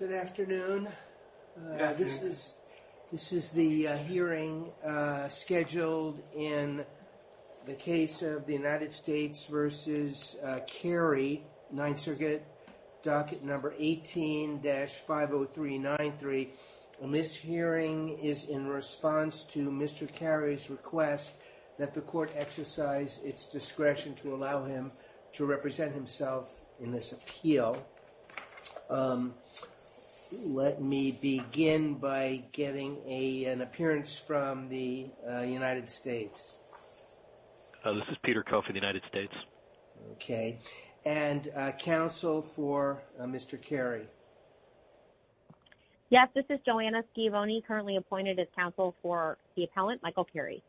Good afternoon. This is the hearing scheduled in the case of the United States v. Carey, Ninth Circuit, docket number 18-50393. And this hearing is in response to Mr. Carey's request that the court exercise its discretion to allow him to represent himself in this appeal. Let me begin by getting an appearance from the United States. This is Peter Coffin, United States. Okay. And counsel for Mr. Carey. Yes, this is Joanna Schiavone, currently appointed as counsel for the appellant, Michael Carey.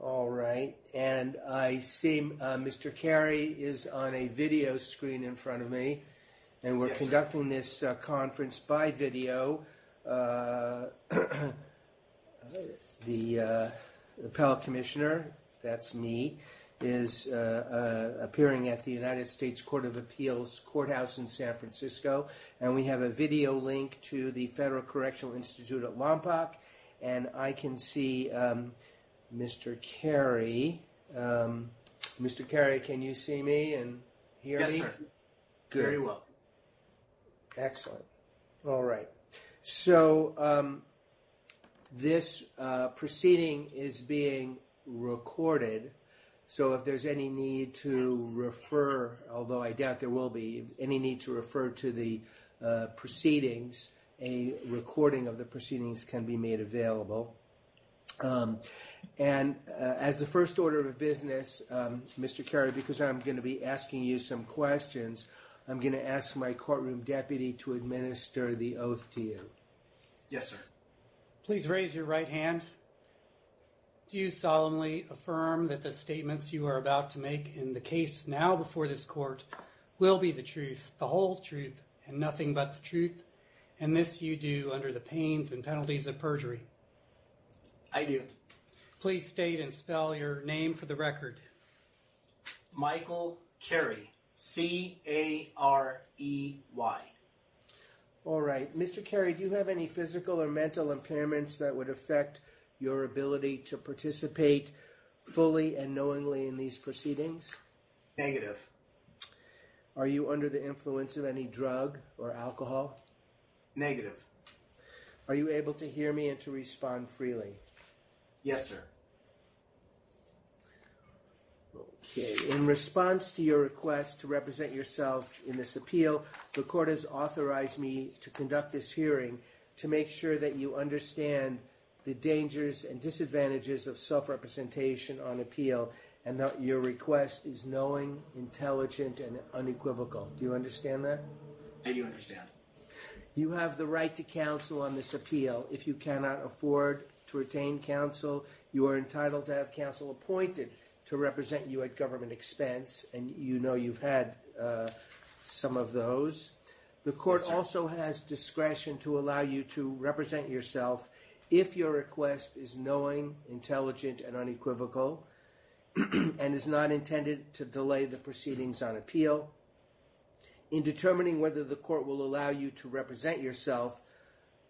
All right. And I see Mr. Carey is on a video screen in front of me. And we're conducting this conference by video. The appellate commissioner, that's me, is appearing at the United States Court of Appeals courthouse in San Francisco. And we have a video link to the Federal Correctional Institute at Lompoc. And I can see Mr. Carey. Mr. Carey, can you see me and hear me? Yes, sir. Very well. Excellent. All right. So this proceeding is being recorded. So if there's any need to refer, although I doubt there will be any need to refer to the proceedings, a recording of the proceedings can be made available. And as the first order of business, Mr. Carey, because I'm going to be asking you some questions, I'm going to ask my courtroom deputy to administer the oath to you. Yes, sir. Please raise your right hand. Do you solemnly affirm that the statements you are about to make in the case now before this court will be the truth, the whole truth, and nothing but the truth? And this you do under the pains and penalties of perjury? I do. Please state and spell your name for the record. Michael Carey. C-A-R-E-Y. All right. Mr. Carey, do you have any physical or mental impairments that would affect your ability to participate fully and knowingly in these proceedings? Negative. Are you under the influence of any drug or alcohol? Negative. Are you able to hear me and to respond freely? Yes, sir. Okay. In response to your request to represent yourself in this appeal, the court has authorized me to conduct this hearing to make sure that you understand the dangers and disadvantages of self-representation on appeal and that your request is knowing, intelligent, and unequivocal. Do you understand that? I do understand. You have the right to counsel on this appeal. If you cannot afford to retain counsel, you are entitled to have counsel appointed to represent you at government expense, and you know you've had some of those. The court also has discretion to allow you to represent yourself if your request is knowing, intelligent, and unequivocal and is not intended to delay the In determining whether the court will allow you to represent yourself,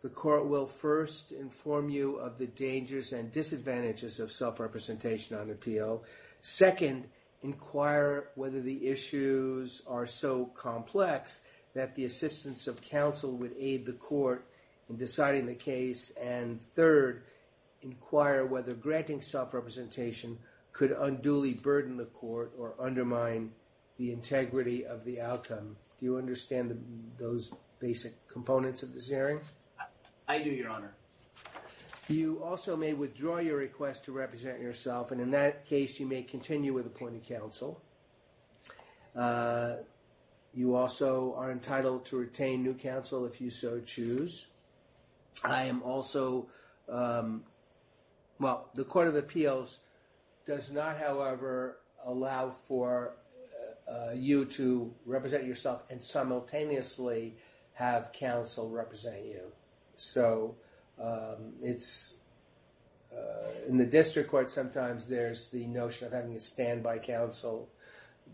the court will first inform you of the dangers and disadvantages of self-representation on appeal, second, inquire whether the issues are so complex that the assistance of counsel would aid the court in deciding the case, and third, inquire whether granting self-representation could unduly burden the court or undermine the integrity of the outcome. Do you understand those basic components of this hearing? I do, Your Honor. You also may withdraw your request to represent yourself, and in that case, you may continue with appointed counsel. You also are entitled to retain new counsel if you so choose. I am also, well, the Court of Appeals does not, however, allow for you to represent yourself and simultaneously have counsel represent you. So it's, in the district court, sometimes there's the notion of having a standby counsel.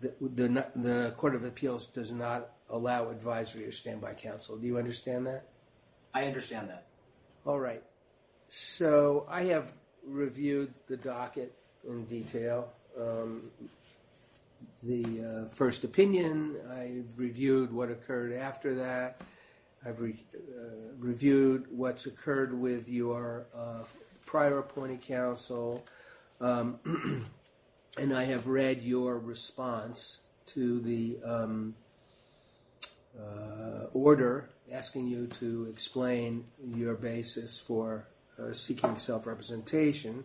The Court of Appeals does not allow advisory or standby counsel. Do you understand that? I understand that. All right. So I have reviewed the docket in detail, the first opinion. I've reviewed what occurred after that. I've reviewed what's occurred with your prior appointed counsel, and I have read your response to the order asking you to explain your basis for seeking self-representation.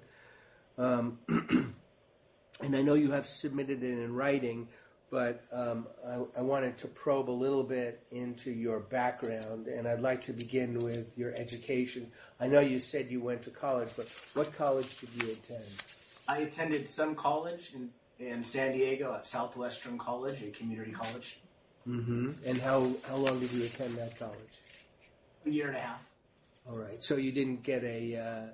And I know you have submitted it in writing, but I wanted to probe a little bit into your background, and I'd like to begin with your education. I know you said you went to college, but what college did you attend? I attended some college in San Diego, Southwestern College, a community college. And how long did you attend that college? A year and a half. All right. So you didn't get a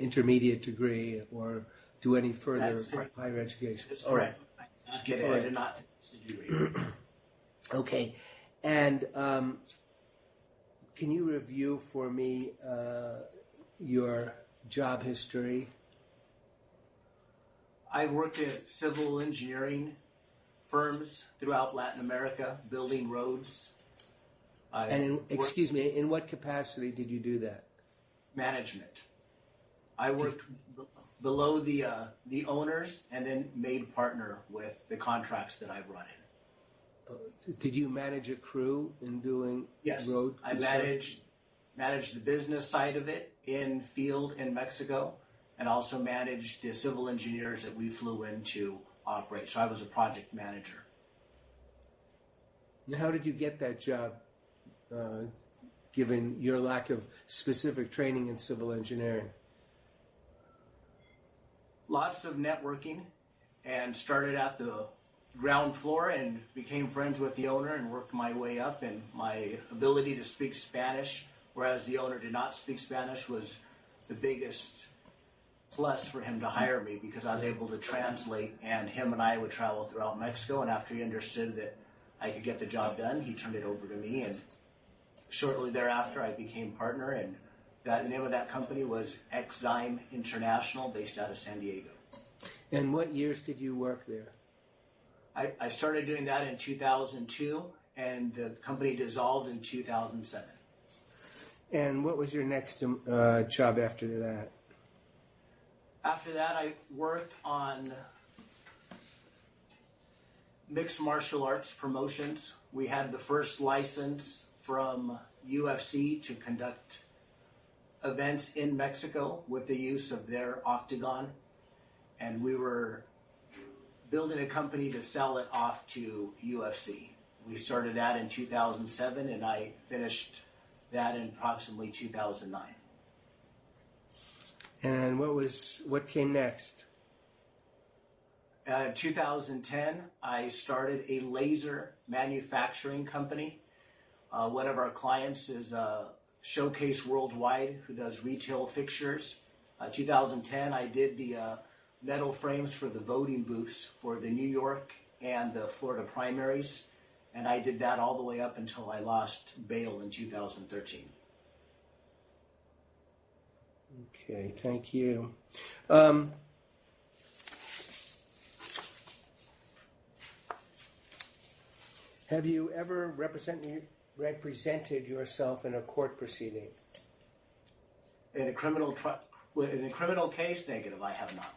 intermediate degree or do any further higher education? That's correct. I did not get a degree. Okay. And can you review for me your job history? I've worked in civil engineering firms throughout Latin America, building roads. And in what capacity did you do that? Management. I worked below the owners and then made partner with the contracts that I've run. Did you manage a crew in doing road construction? Yes. I managed the business side of it in field in Mexico, and also managed the civil engineers that we flew in to operate. So I was a project manager. And how did you get that job, given your lack of specific training in civil engineering? Lots of networking and started at the ground floor and became friends with the owner and worked my way up. And my ability to speak Spanish, whereas the owner did not speak Spanish, was the biggest plus for him to hire me because I was able to translate and him and I would travel throughout Mexico. And after he understood that I could get the job done, he turned it over to me. And shortly thereafter, I became partner. And that name of that company was Exxime International based out of San Diego. And what years did you work there? I started doing that in 2002 and the company dissolved in 2007. And what was your next job after that? After that, I worked on mixed martial arts promotions. We had the first license from UFC to conduct events in Mexico with the use of their octagon. And we were building a company to sell it off to UFC. We started that in 2007. And I finished that in approximately 2009. And what was what came next? In 2010, I started a laser manufacturing company. One of our clients is Showcase Worldwide, who does retail fixtures. In 2010, I did the metal frames for the voting booths for the New York and the Florida primaries. And I did that all the way up until I lost bail in 2013. Okay, thank you. Have you ever represented yourself in a court proceeding? In a criminal trial? In a criminal case? Negative, I have not.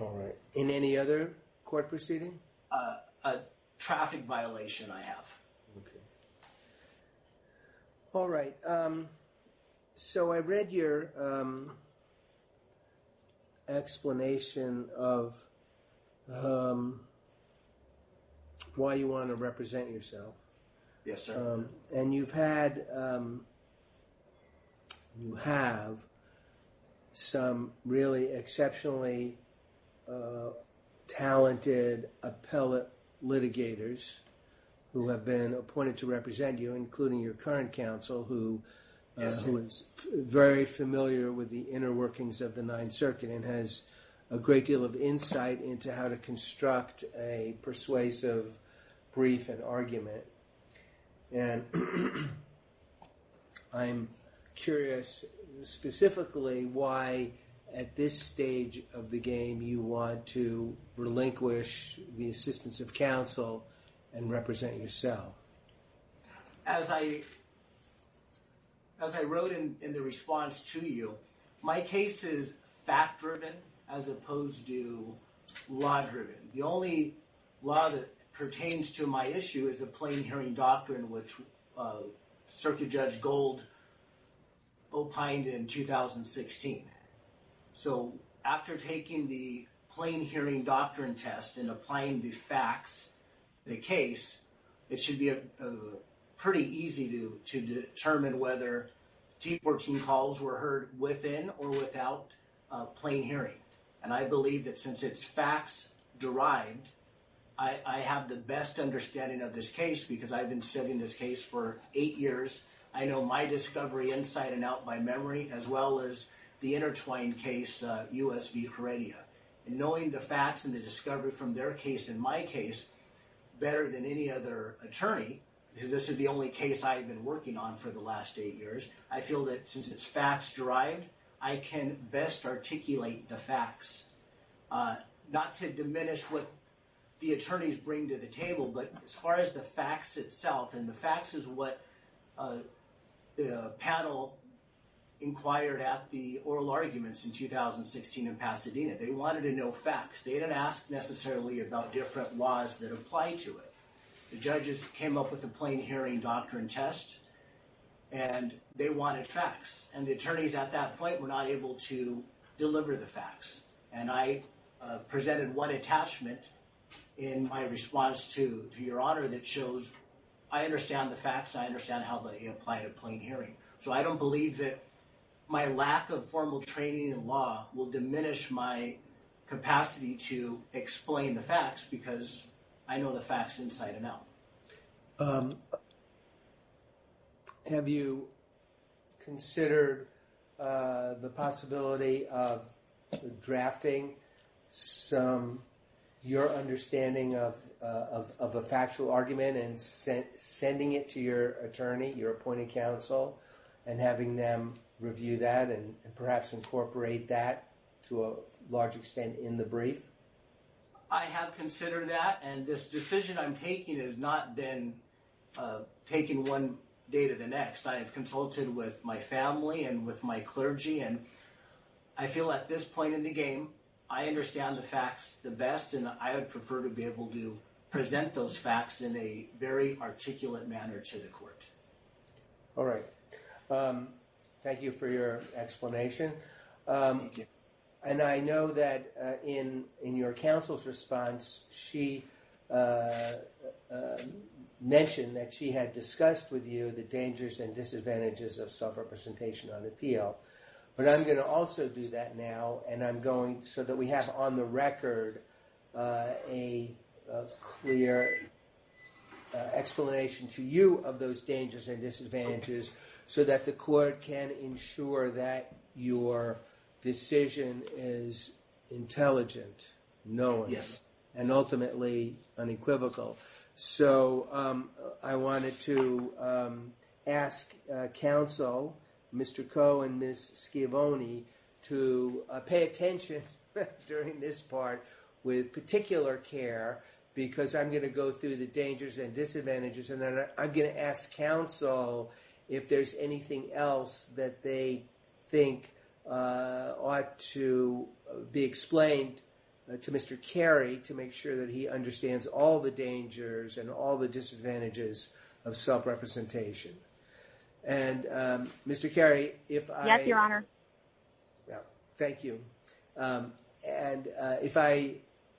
All right. In any other court proceeding? A traffic violation, I have. Okay. All right. So I read your explanation of why you want to represent yourself. Yes, sir. And you've had, you have some really exceptionally talented appellate litigators who have been appointed to represent you, including your current counsel, who is very familiar with the inner workings of the Ninth Circuit and has a great deal of insight into how to construct a persuasive brief and I'm curious specifically why at this stage of the game you want to relinquish the assistance of counsel and represent yourself? As I wrote in the response to you, my case is fact-driven as opposed to law-driven. The only law that pertains to my issue is the Circuit Judge Gold opined in 2016. So after taking the plain hearing doctrine test and applying the facts, the case, it should be pretty easy to determine whether T14 calls were heard within or without plain hearing. And I believe that since it's facts-derived, I have the best understanding of this case because I've been studying this case for eight years. I know my discovery inside and out by memory as well as the intertwined case, U.S. v. Caridia. Knowing the facts and the discovery from their case and my case better than any other attorney, because this is the only case I've been working on for the last eight years, I feel that since it's facts-derived, I can best articulate the facts. Not to diminish what the attorneys bring to the table, but as far as the facts itself, and the facts is what the panel inquired at the oral arguments in 2016 in Pasadena. They wanted to know facts. They didn't ask necessarily about different laws that apply to it. The judges came up with the plain hearing doctrine test and they wanted facts. And the attorneys at that point were not able to deliver the facts. And I presented one attachment in my response to your honor that shows I understand the facts. I understand how they apply to plain hearing. So I don't believe that my lack of formal training in law will diminish my capacity to explain the facts because I know the facts inside and out. Have you considered the possibility of drafting some, your understanding of a factual argument and sending it to your attorney, your appointed counsel, and having them review that and perhaps incorporate that to a large extent in the brief? I have considered that and this decision I'm taking has not been taken one day to the next. I have consulted with my family and with my clergy and I feel at this point in the game, I understand the facts the best and I would prefer to be able to present those facts in a very articulate manner to the court. All right. Thank you for your explanation. And I know that in your counsel's response, she mentioned that she had discussed with you the dangers and disadvantages of self-representation on appeal. But I'm going to also do that now and I'm going so that we have on the record a clear explanation to you of those dangers and disadvantages so that the court can ensure that your decision is intelligent, knowing, and ultimately unequivocal. So I wanted to ask counsel, Mr. Koh and Ms. Schiavone, to pay attention during this part with particular care because I'm going to go through the dangers and disadvantages and then I'm going to ask counsel if there's anything else that they think ought to be explained to Mr. Carey to make sure that he understands all the dangers and all the disadvantages of self-representation. And Mr. Carey, if I... Yes, your honor. Thank you. And if I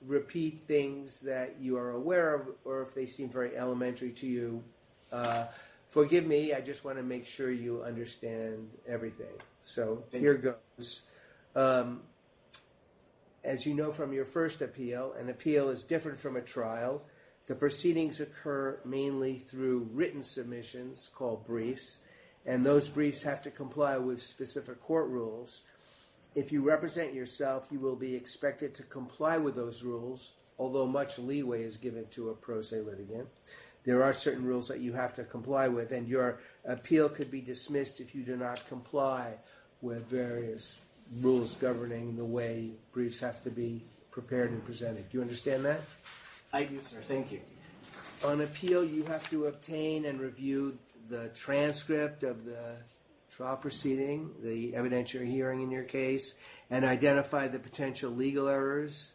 repeat things that you are aware of or if they seem very elementary to you, forgive me. I just want to make sure you understand everything. So here goes. As you know from your first appeal, an appeal is different from a trial. The proceedings occur mainly through written submissions called briefs and those briefs have to comply with specific court rules. If you represent yourself, you will be expected to comply with those rules, although much leeway is given to a pro se litigant. There are certain rules that you have to comply with and your appeal could be dismissed if you do not comply with various rules governing the way briefs have to be prepared and presented. Do you understand that? I do, sir. Thank you. On appeal, you have to obtain and review the transcript of the trial proceeding, the evidentiary hearing in your case, and identify the potential legal errors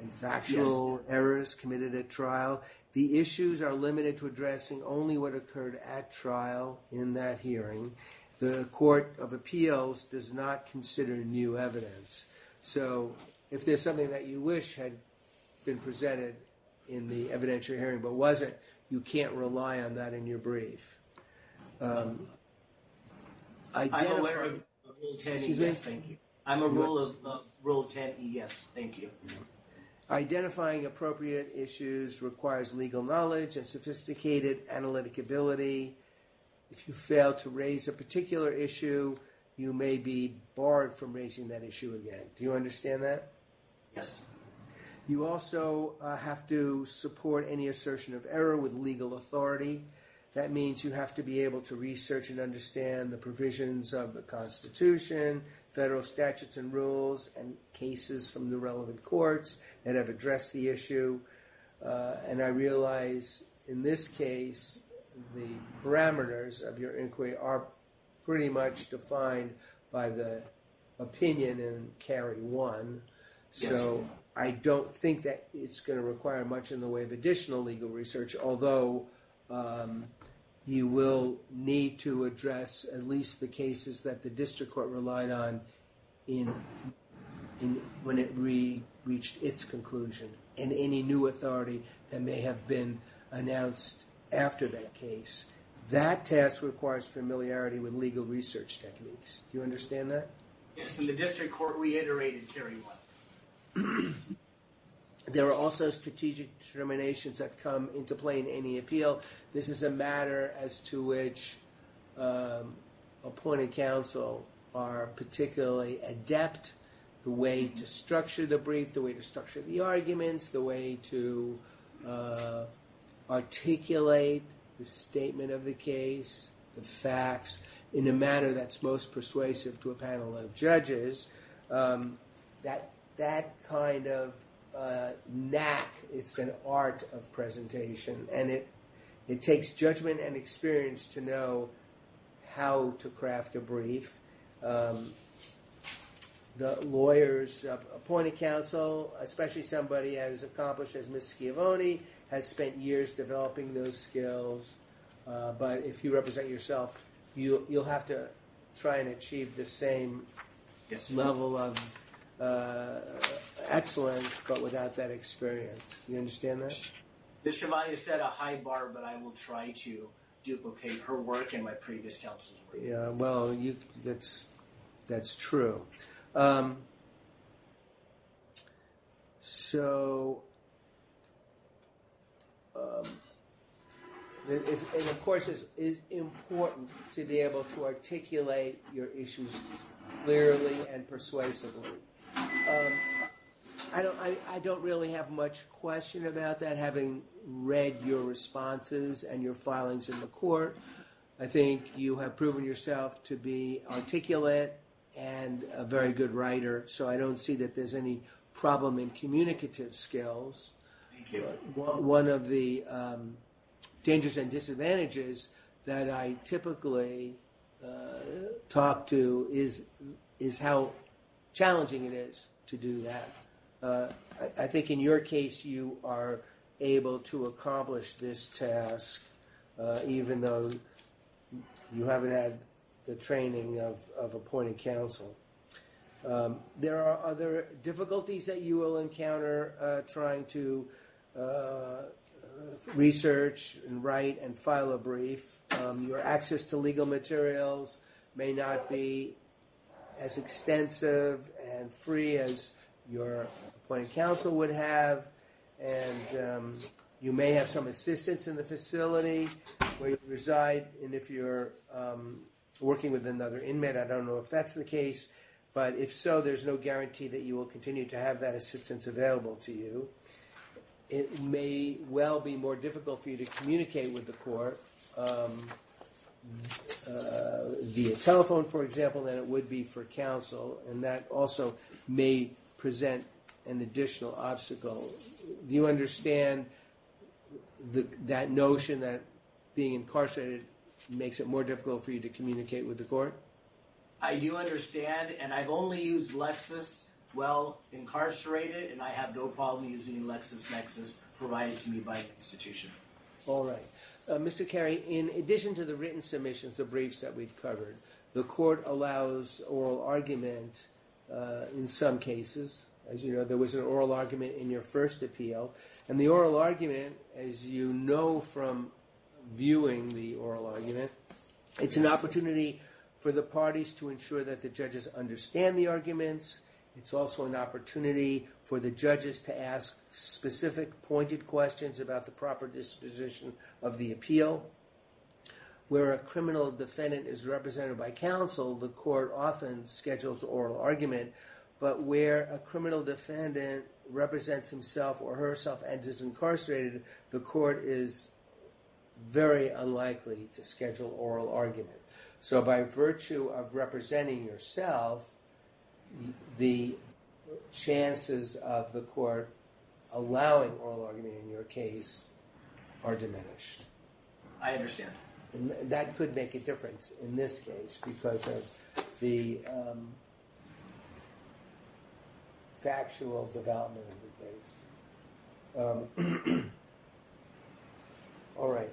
and factual errors committed at trial. The issues are limited to addressing only what occurred at trial in that hearing. The court of appeals does not consider new evidence. So if there's something that you wish had been presented in the evidentiary hearing but wasn't, you can't rely on that in your trial. I'm aware of rule 10 ES, thank you. I'm aware of rule 10 ES, thank you. Identifying appropriate issues requires legal knowledge and sophisticated analytic ability. If you fail to raise a particular issue, you may be barred from raising that issue again. Do you understand that? Yes. You also have to support any assertion of error with legal authority. That means you have to be able to understand the provisions of the Constitution, federal statutes and rules, and cases from the relevant courts that have addressed the issue. And I realize in this case, the parameters of your inquiry are pretty much defined by the opinion in Cary 1. Yes, sir. So I don't think that it's going to require much in the way of additional legal research, although you will need to address at least the cases that the district court relied on when it reached its conclusion, and any new authority that may have been announced after that case. That test requires familiarity with legal research techniques. Do you understand that? Yes, and the district court reiterated Cary 1. Yes. There are also strategic determinations that come into play in any appeal. This is a matter as to which appointed counsel are particularly adept, the way to structure the brief, the way to structure the arguments, the way to articulate the statement of the case, the facts in a manner that's most that kind of knack. It's an art of presentation, and it takes judgment and experience to know how to craft a brief. The lawyers of appointed counsel, especially somebody as accomplished as Ms. Schiavone, has spent years developing those skills. But if you represent yourself, you'll have to try and achieve the same level of excellence, but without that experience. You understand that? Ms. Schiavone has set a high bar, but I will try to duplicate her work and my previous counsel's work. Well, that's true. So, of course, it's important to be able to articulate your issues clearly and persuasively. I don't really have much question about that, having read your responses and your filings in court. I think you have proven yourself to be articulate and a very good writer, so I don't see that there's any problem in communicative skills. One of the dangers and disadvantages that I typically talk to is how challenging it is to do that. I think in your case, you are able to accomplish this task, even though you haven't had the training of appointed counsel. There are other difficulties that you will encounter trying to research and write and your appointed counsel would have, and you may have some assistance in the facility where you reside. And if you're working with another inmate, I don't know if that's the case, but if so, there's no guarantee that you will continue to have that assistance available to you. It may well be more difficult for you to communicate with the court via telephone, for example, than it would be for counsel, and that also may present an additional obstacle. Do you understand that notion that being incarcerated makes it more difficult for you to communicate with the court? I do understand, and I've only used Lexis well incarcerated, and I have no problem using LexisNexis provided to me by the institution. All right. Mr. Carey, in addition to the written submissions, the briefs that we've covered, the court allows oral argument in some cases. As you know, there was an oral argument in your first appeal, and the oral argument, as you know from viewing the oral argument, it's an opportunity for the parties to ensure that the judges understand the arguments. It's also an opportunity for the judges to ask specific pointed questions about the proper disposition of the appeal. Where a criminal defendant is represented by counsel, the court often schedules oral argument, but where a criminal defendant represents himself or herself and is incarcerated, the court is very unlikely to schedule oral argument. So by virtue of representing yourself, the chances of the court allowing oral argument in your case are diminished. I understand. That could make a difference in this case because of the factual development of the case. All right.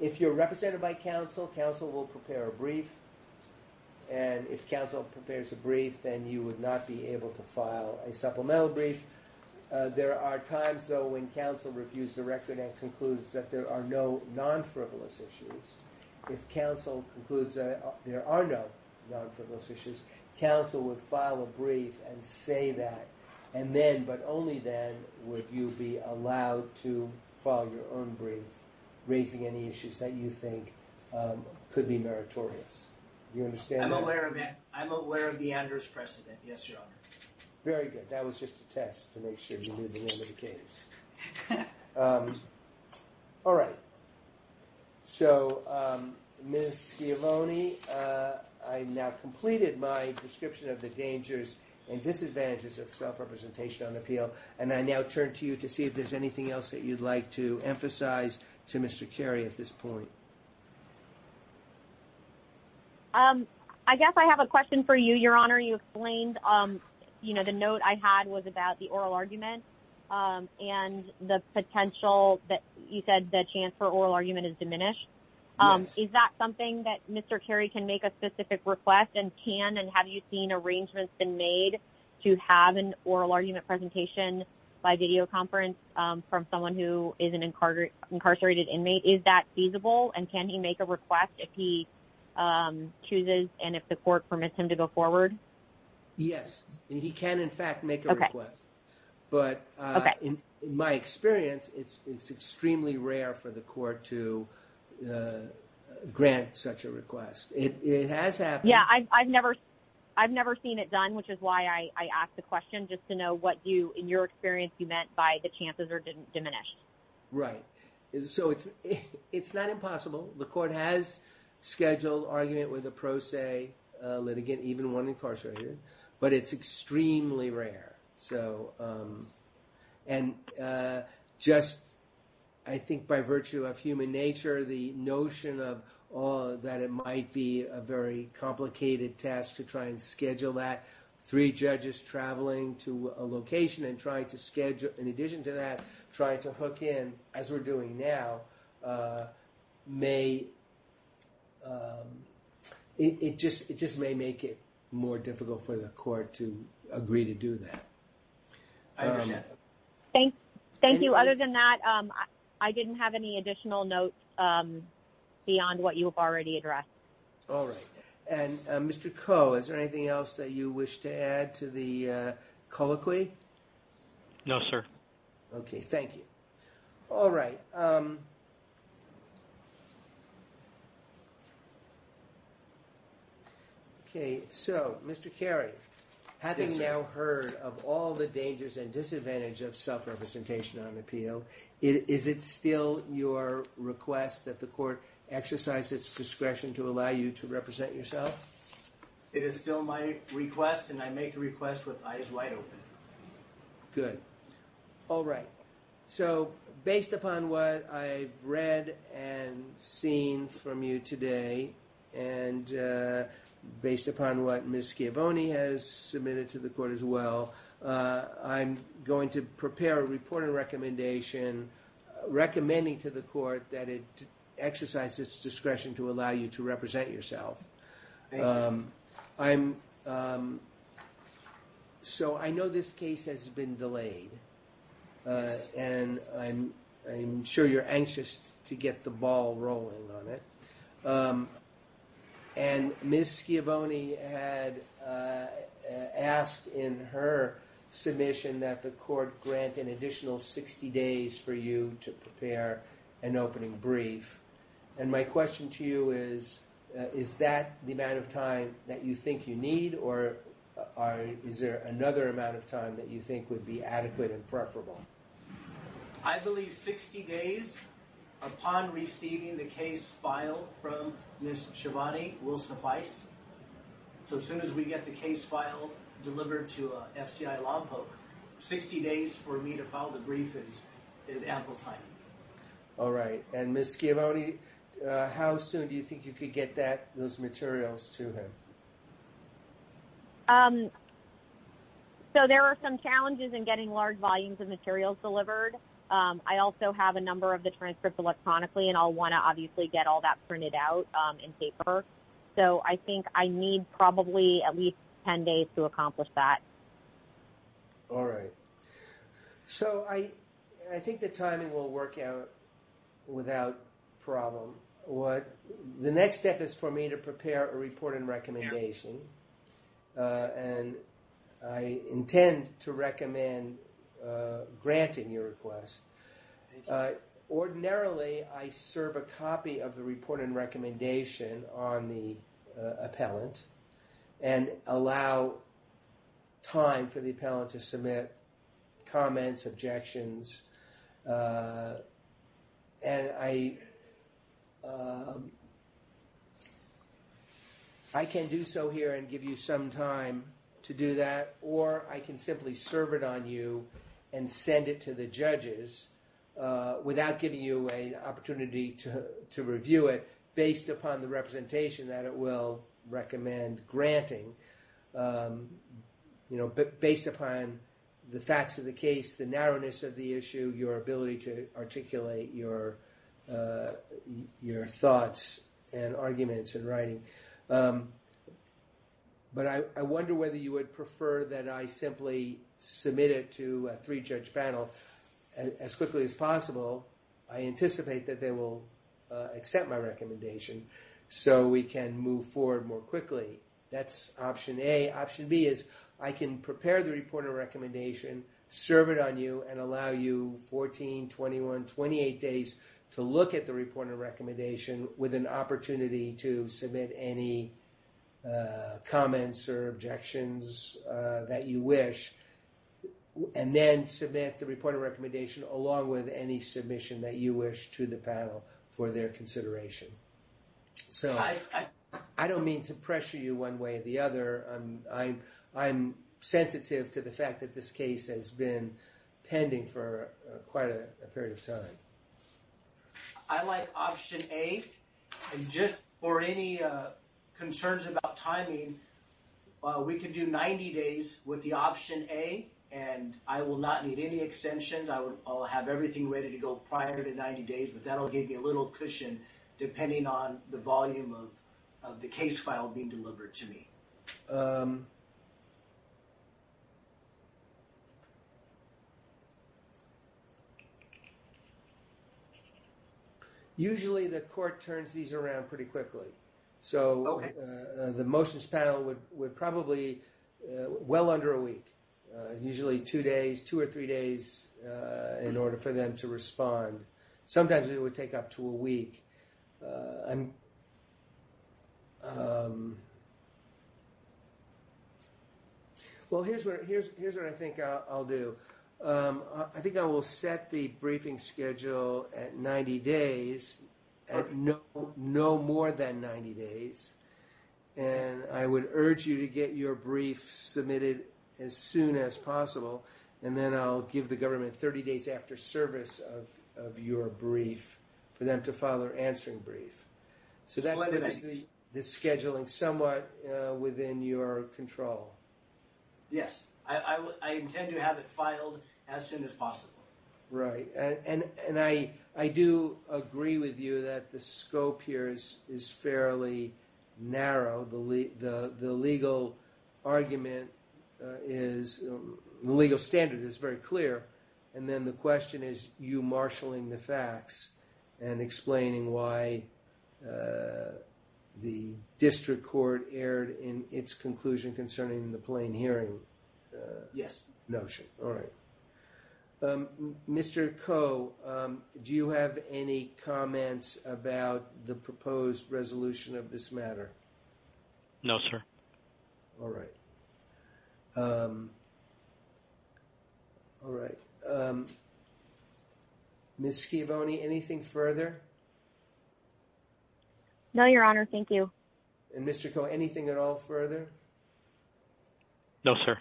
If you're represented by counsel, counsel will prepare a brief, and if counsel prepares a brief, then you would not be able to file a supplemental brief. There are times, though, when counsel reviews the record and concludes that there are no non-frivolous issues. If counsel concludes that there are no non-frivolous issues, counsel would file a brief and say that, and then, but only then, would you be allowed to be meritorious. Do you understand that? I'm aware of that. I'm aware of the auditor's precedent. Yes, your honor. Very good. That was just a test to make sure you knew the name of the case. All right. So, Ms. Schiavone, I've now completed my description of the dangers and disadvantages of self-representation on appeal, and I now turn to you to see if there's anything else that you'd like to emphasize to Mr. Carey at this point. I guess I have a question for you, your honor. You explained, you know, the note I had was about the oral argument and the potential that you said the chance for oral argument is diminished. Is that something that Mr. Carey can make a specific request, and can, and have you seen arrangements been made to have an oral argument presentation by videoconference from someone who is an incarcerated inmate? Is that feasible, and can he make a request if he chooses, and if the court permits him to go forward? Yes, he can, in fact, make a request, but in my experience, it's extremely rare for the court to grant such a request. It has happened. Yeah, I've never seen it done, which is why I asked the question, just to know what you, in your experience, you meant by the chances are diminished. Right, so it's not impossible. The court has scheduled argument with a pro se litigant, even one incarcerated, but it's extremely rare, so, and just, I think by virtue of human nature, the notion of that it might be a very to schedule, in addition to that, try to hook in, as we're doing now, may, it just may make it more difficult for the court to agree to do that. I understand. Thank you. Other than that, I didn't have any additional notes beyond what you have already addressed. All right, and Mr. Coe, is there anything else that you wish to add to the colloquy? No, sir. Okay, thank you. All right. Okay, so, Mr. Carey, having now heard of all the dangers and disadvantages of self-representation on appeal, is it still your request that the court exercise its discretion to allow you to I make the request with eyes wide open. Good. All right. So, based upon what I've read and seen from you today, and based upon what Ms. Schiavone has submitted to the court as well, I'm going to prepare a report and recommendation recommending to the court that it exercise its discretion to allow you to represent yourself. Thank you. So, I know this case has been delayed, and I'm sure you're anxious to get the ball rolling on it. And Ms. Schiavone had asked in her submission that the court grant an additional 60 days for you to prepare an opening brief. And my question to you is, is that the amount of time that you think you need, or is there another amount of time that you think would be adequate and preferable? I believe 60 days upon receiving the case file from Ms. Schiavone will suffice. So, as soon as we get the case file delivered to a FCI law book, 60 days for me to file the brief is ample time. All right. And Ms. Schiavone, how soon do you think you could get those materials to him? So, there are some challenges in getting large volumes of materials delivered. I also have a number of the transcripts electronically, and I'll want to obviously get all that printed out in paper. So, I think I need probably at least 10 days to accomplish that. All right. So, I think the timing will work out without problem. The next step is for me to prepare a report and recommendation. And I intend to recommend granting your request. Ordinarily, I serve a copy of the report and recommendation on the appellant and allow time for the appellant to submit comments, objections. And I can do so here and give you some time to do that, or I can simply serve it on you and send it to the judges without giving you an opportunity to review it based upon the representation that it will recommend granting, based upon the facts of the case, the narrowness of the issue, your ability to articulate your thoughts and arguments in a way that I simply submit it to a three-judge panel as quickly as possible. I anticipate that they will accept my recommendation so we can move forward more quickly. That's option A. Option B is I can prepare the report and recommendation, serve it on you, and allow you 14, 21, 28 days to look at the report and recommendation with an opportunity to submit any comments or objections that you wish, and then submit the report and recommendation along with any submission that you wish to the panel for their consideration. So I don't mean to pressure you one way or the other. I'm sensitive to the fact that this case has been pending for quite a while. So if you have concerns about timing, we can do 90 days with the option A, and I will not need any extensions. I'll have everything ready to go prior to 90 days, but that'll give me a little cushion depending on the volume of the case file being delivered to me. Usually, the court turns these around pretty quickly. So the motions panel would probably well under a week, usually two days, two or three days in order for them to respond. Sometimes it would take up to a month. Well, here's what I think I'll do. I think I will set the briefing schedule at 90 days, at no more than 90 days, and I would urge you to get your brief submitted as soon as possible, and then I'll give the government 30 days after service of your brief for them to file their control. Yes, I intend to have it filed as soon as possible. Right, and I do agree with you that the scope here is fairly narrow. The legal argument is, the legal standard is very clear, and then the question is you marshaling the facts and explaining why the district court erred in its conclusion concerning the plain hearing. Yes. Notion, all right. Mr. Coe, do you have any comments about the proposed resolution of this matter? No, sir. All right. All right. Ms. Schiavone, anything further? No, your honor. Thank you. And Mr. Coe, anything at all further? No, sir.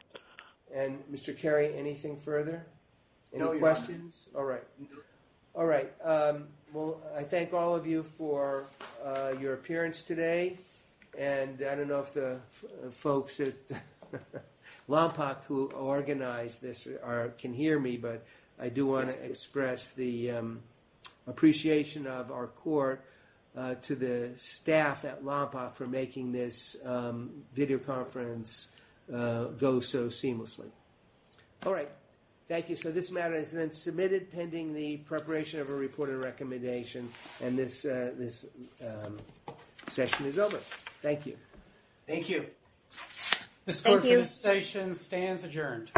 And Mr. Carey, anything further? Any questions? All right. All right. Well, I thank all of you for your appearance today, and I don't know if the folks at LOMPOC who organized this can hear me, but I do want to express the appreciation of our court to the staff at LOMPOC for making this video conference go so seamlessly. All right. Thank you. So this matter is then submitted pending the preparation of a reported recommendation, and this session is over. Thank you. Thank you. Thank you. This court for this session stands adjourned.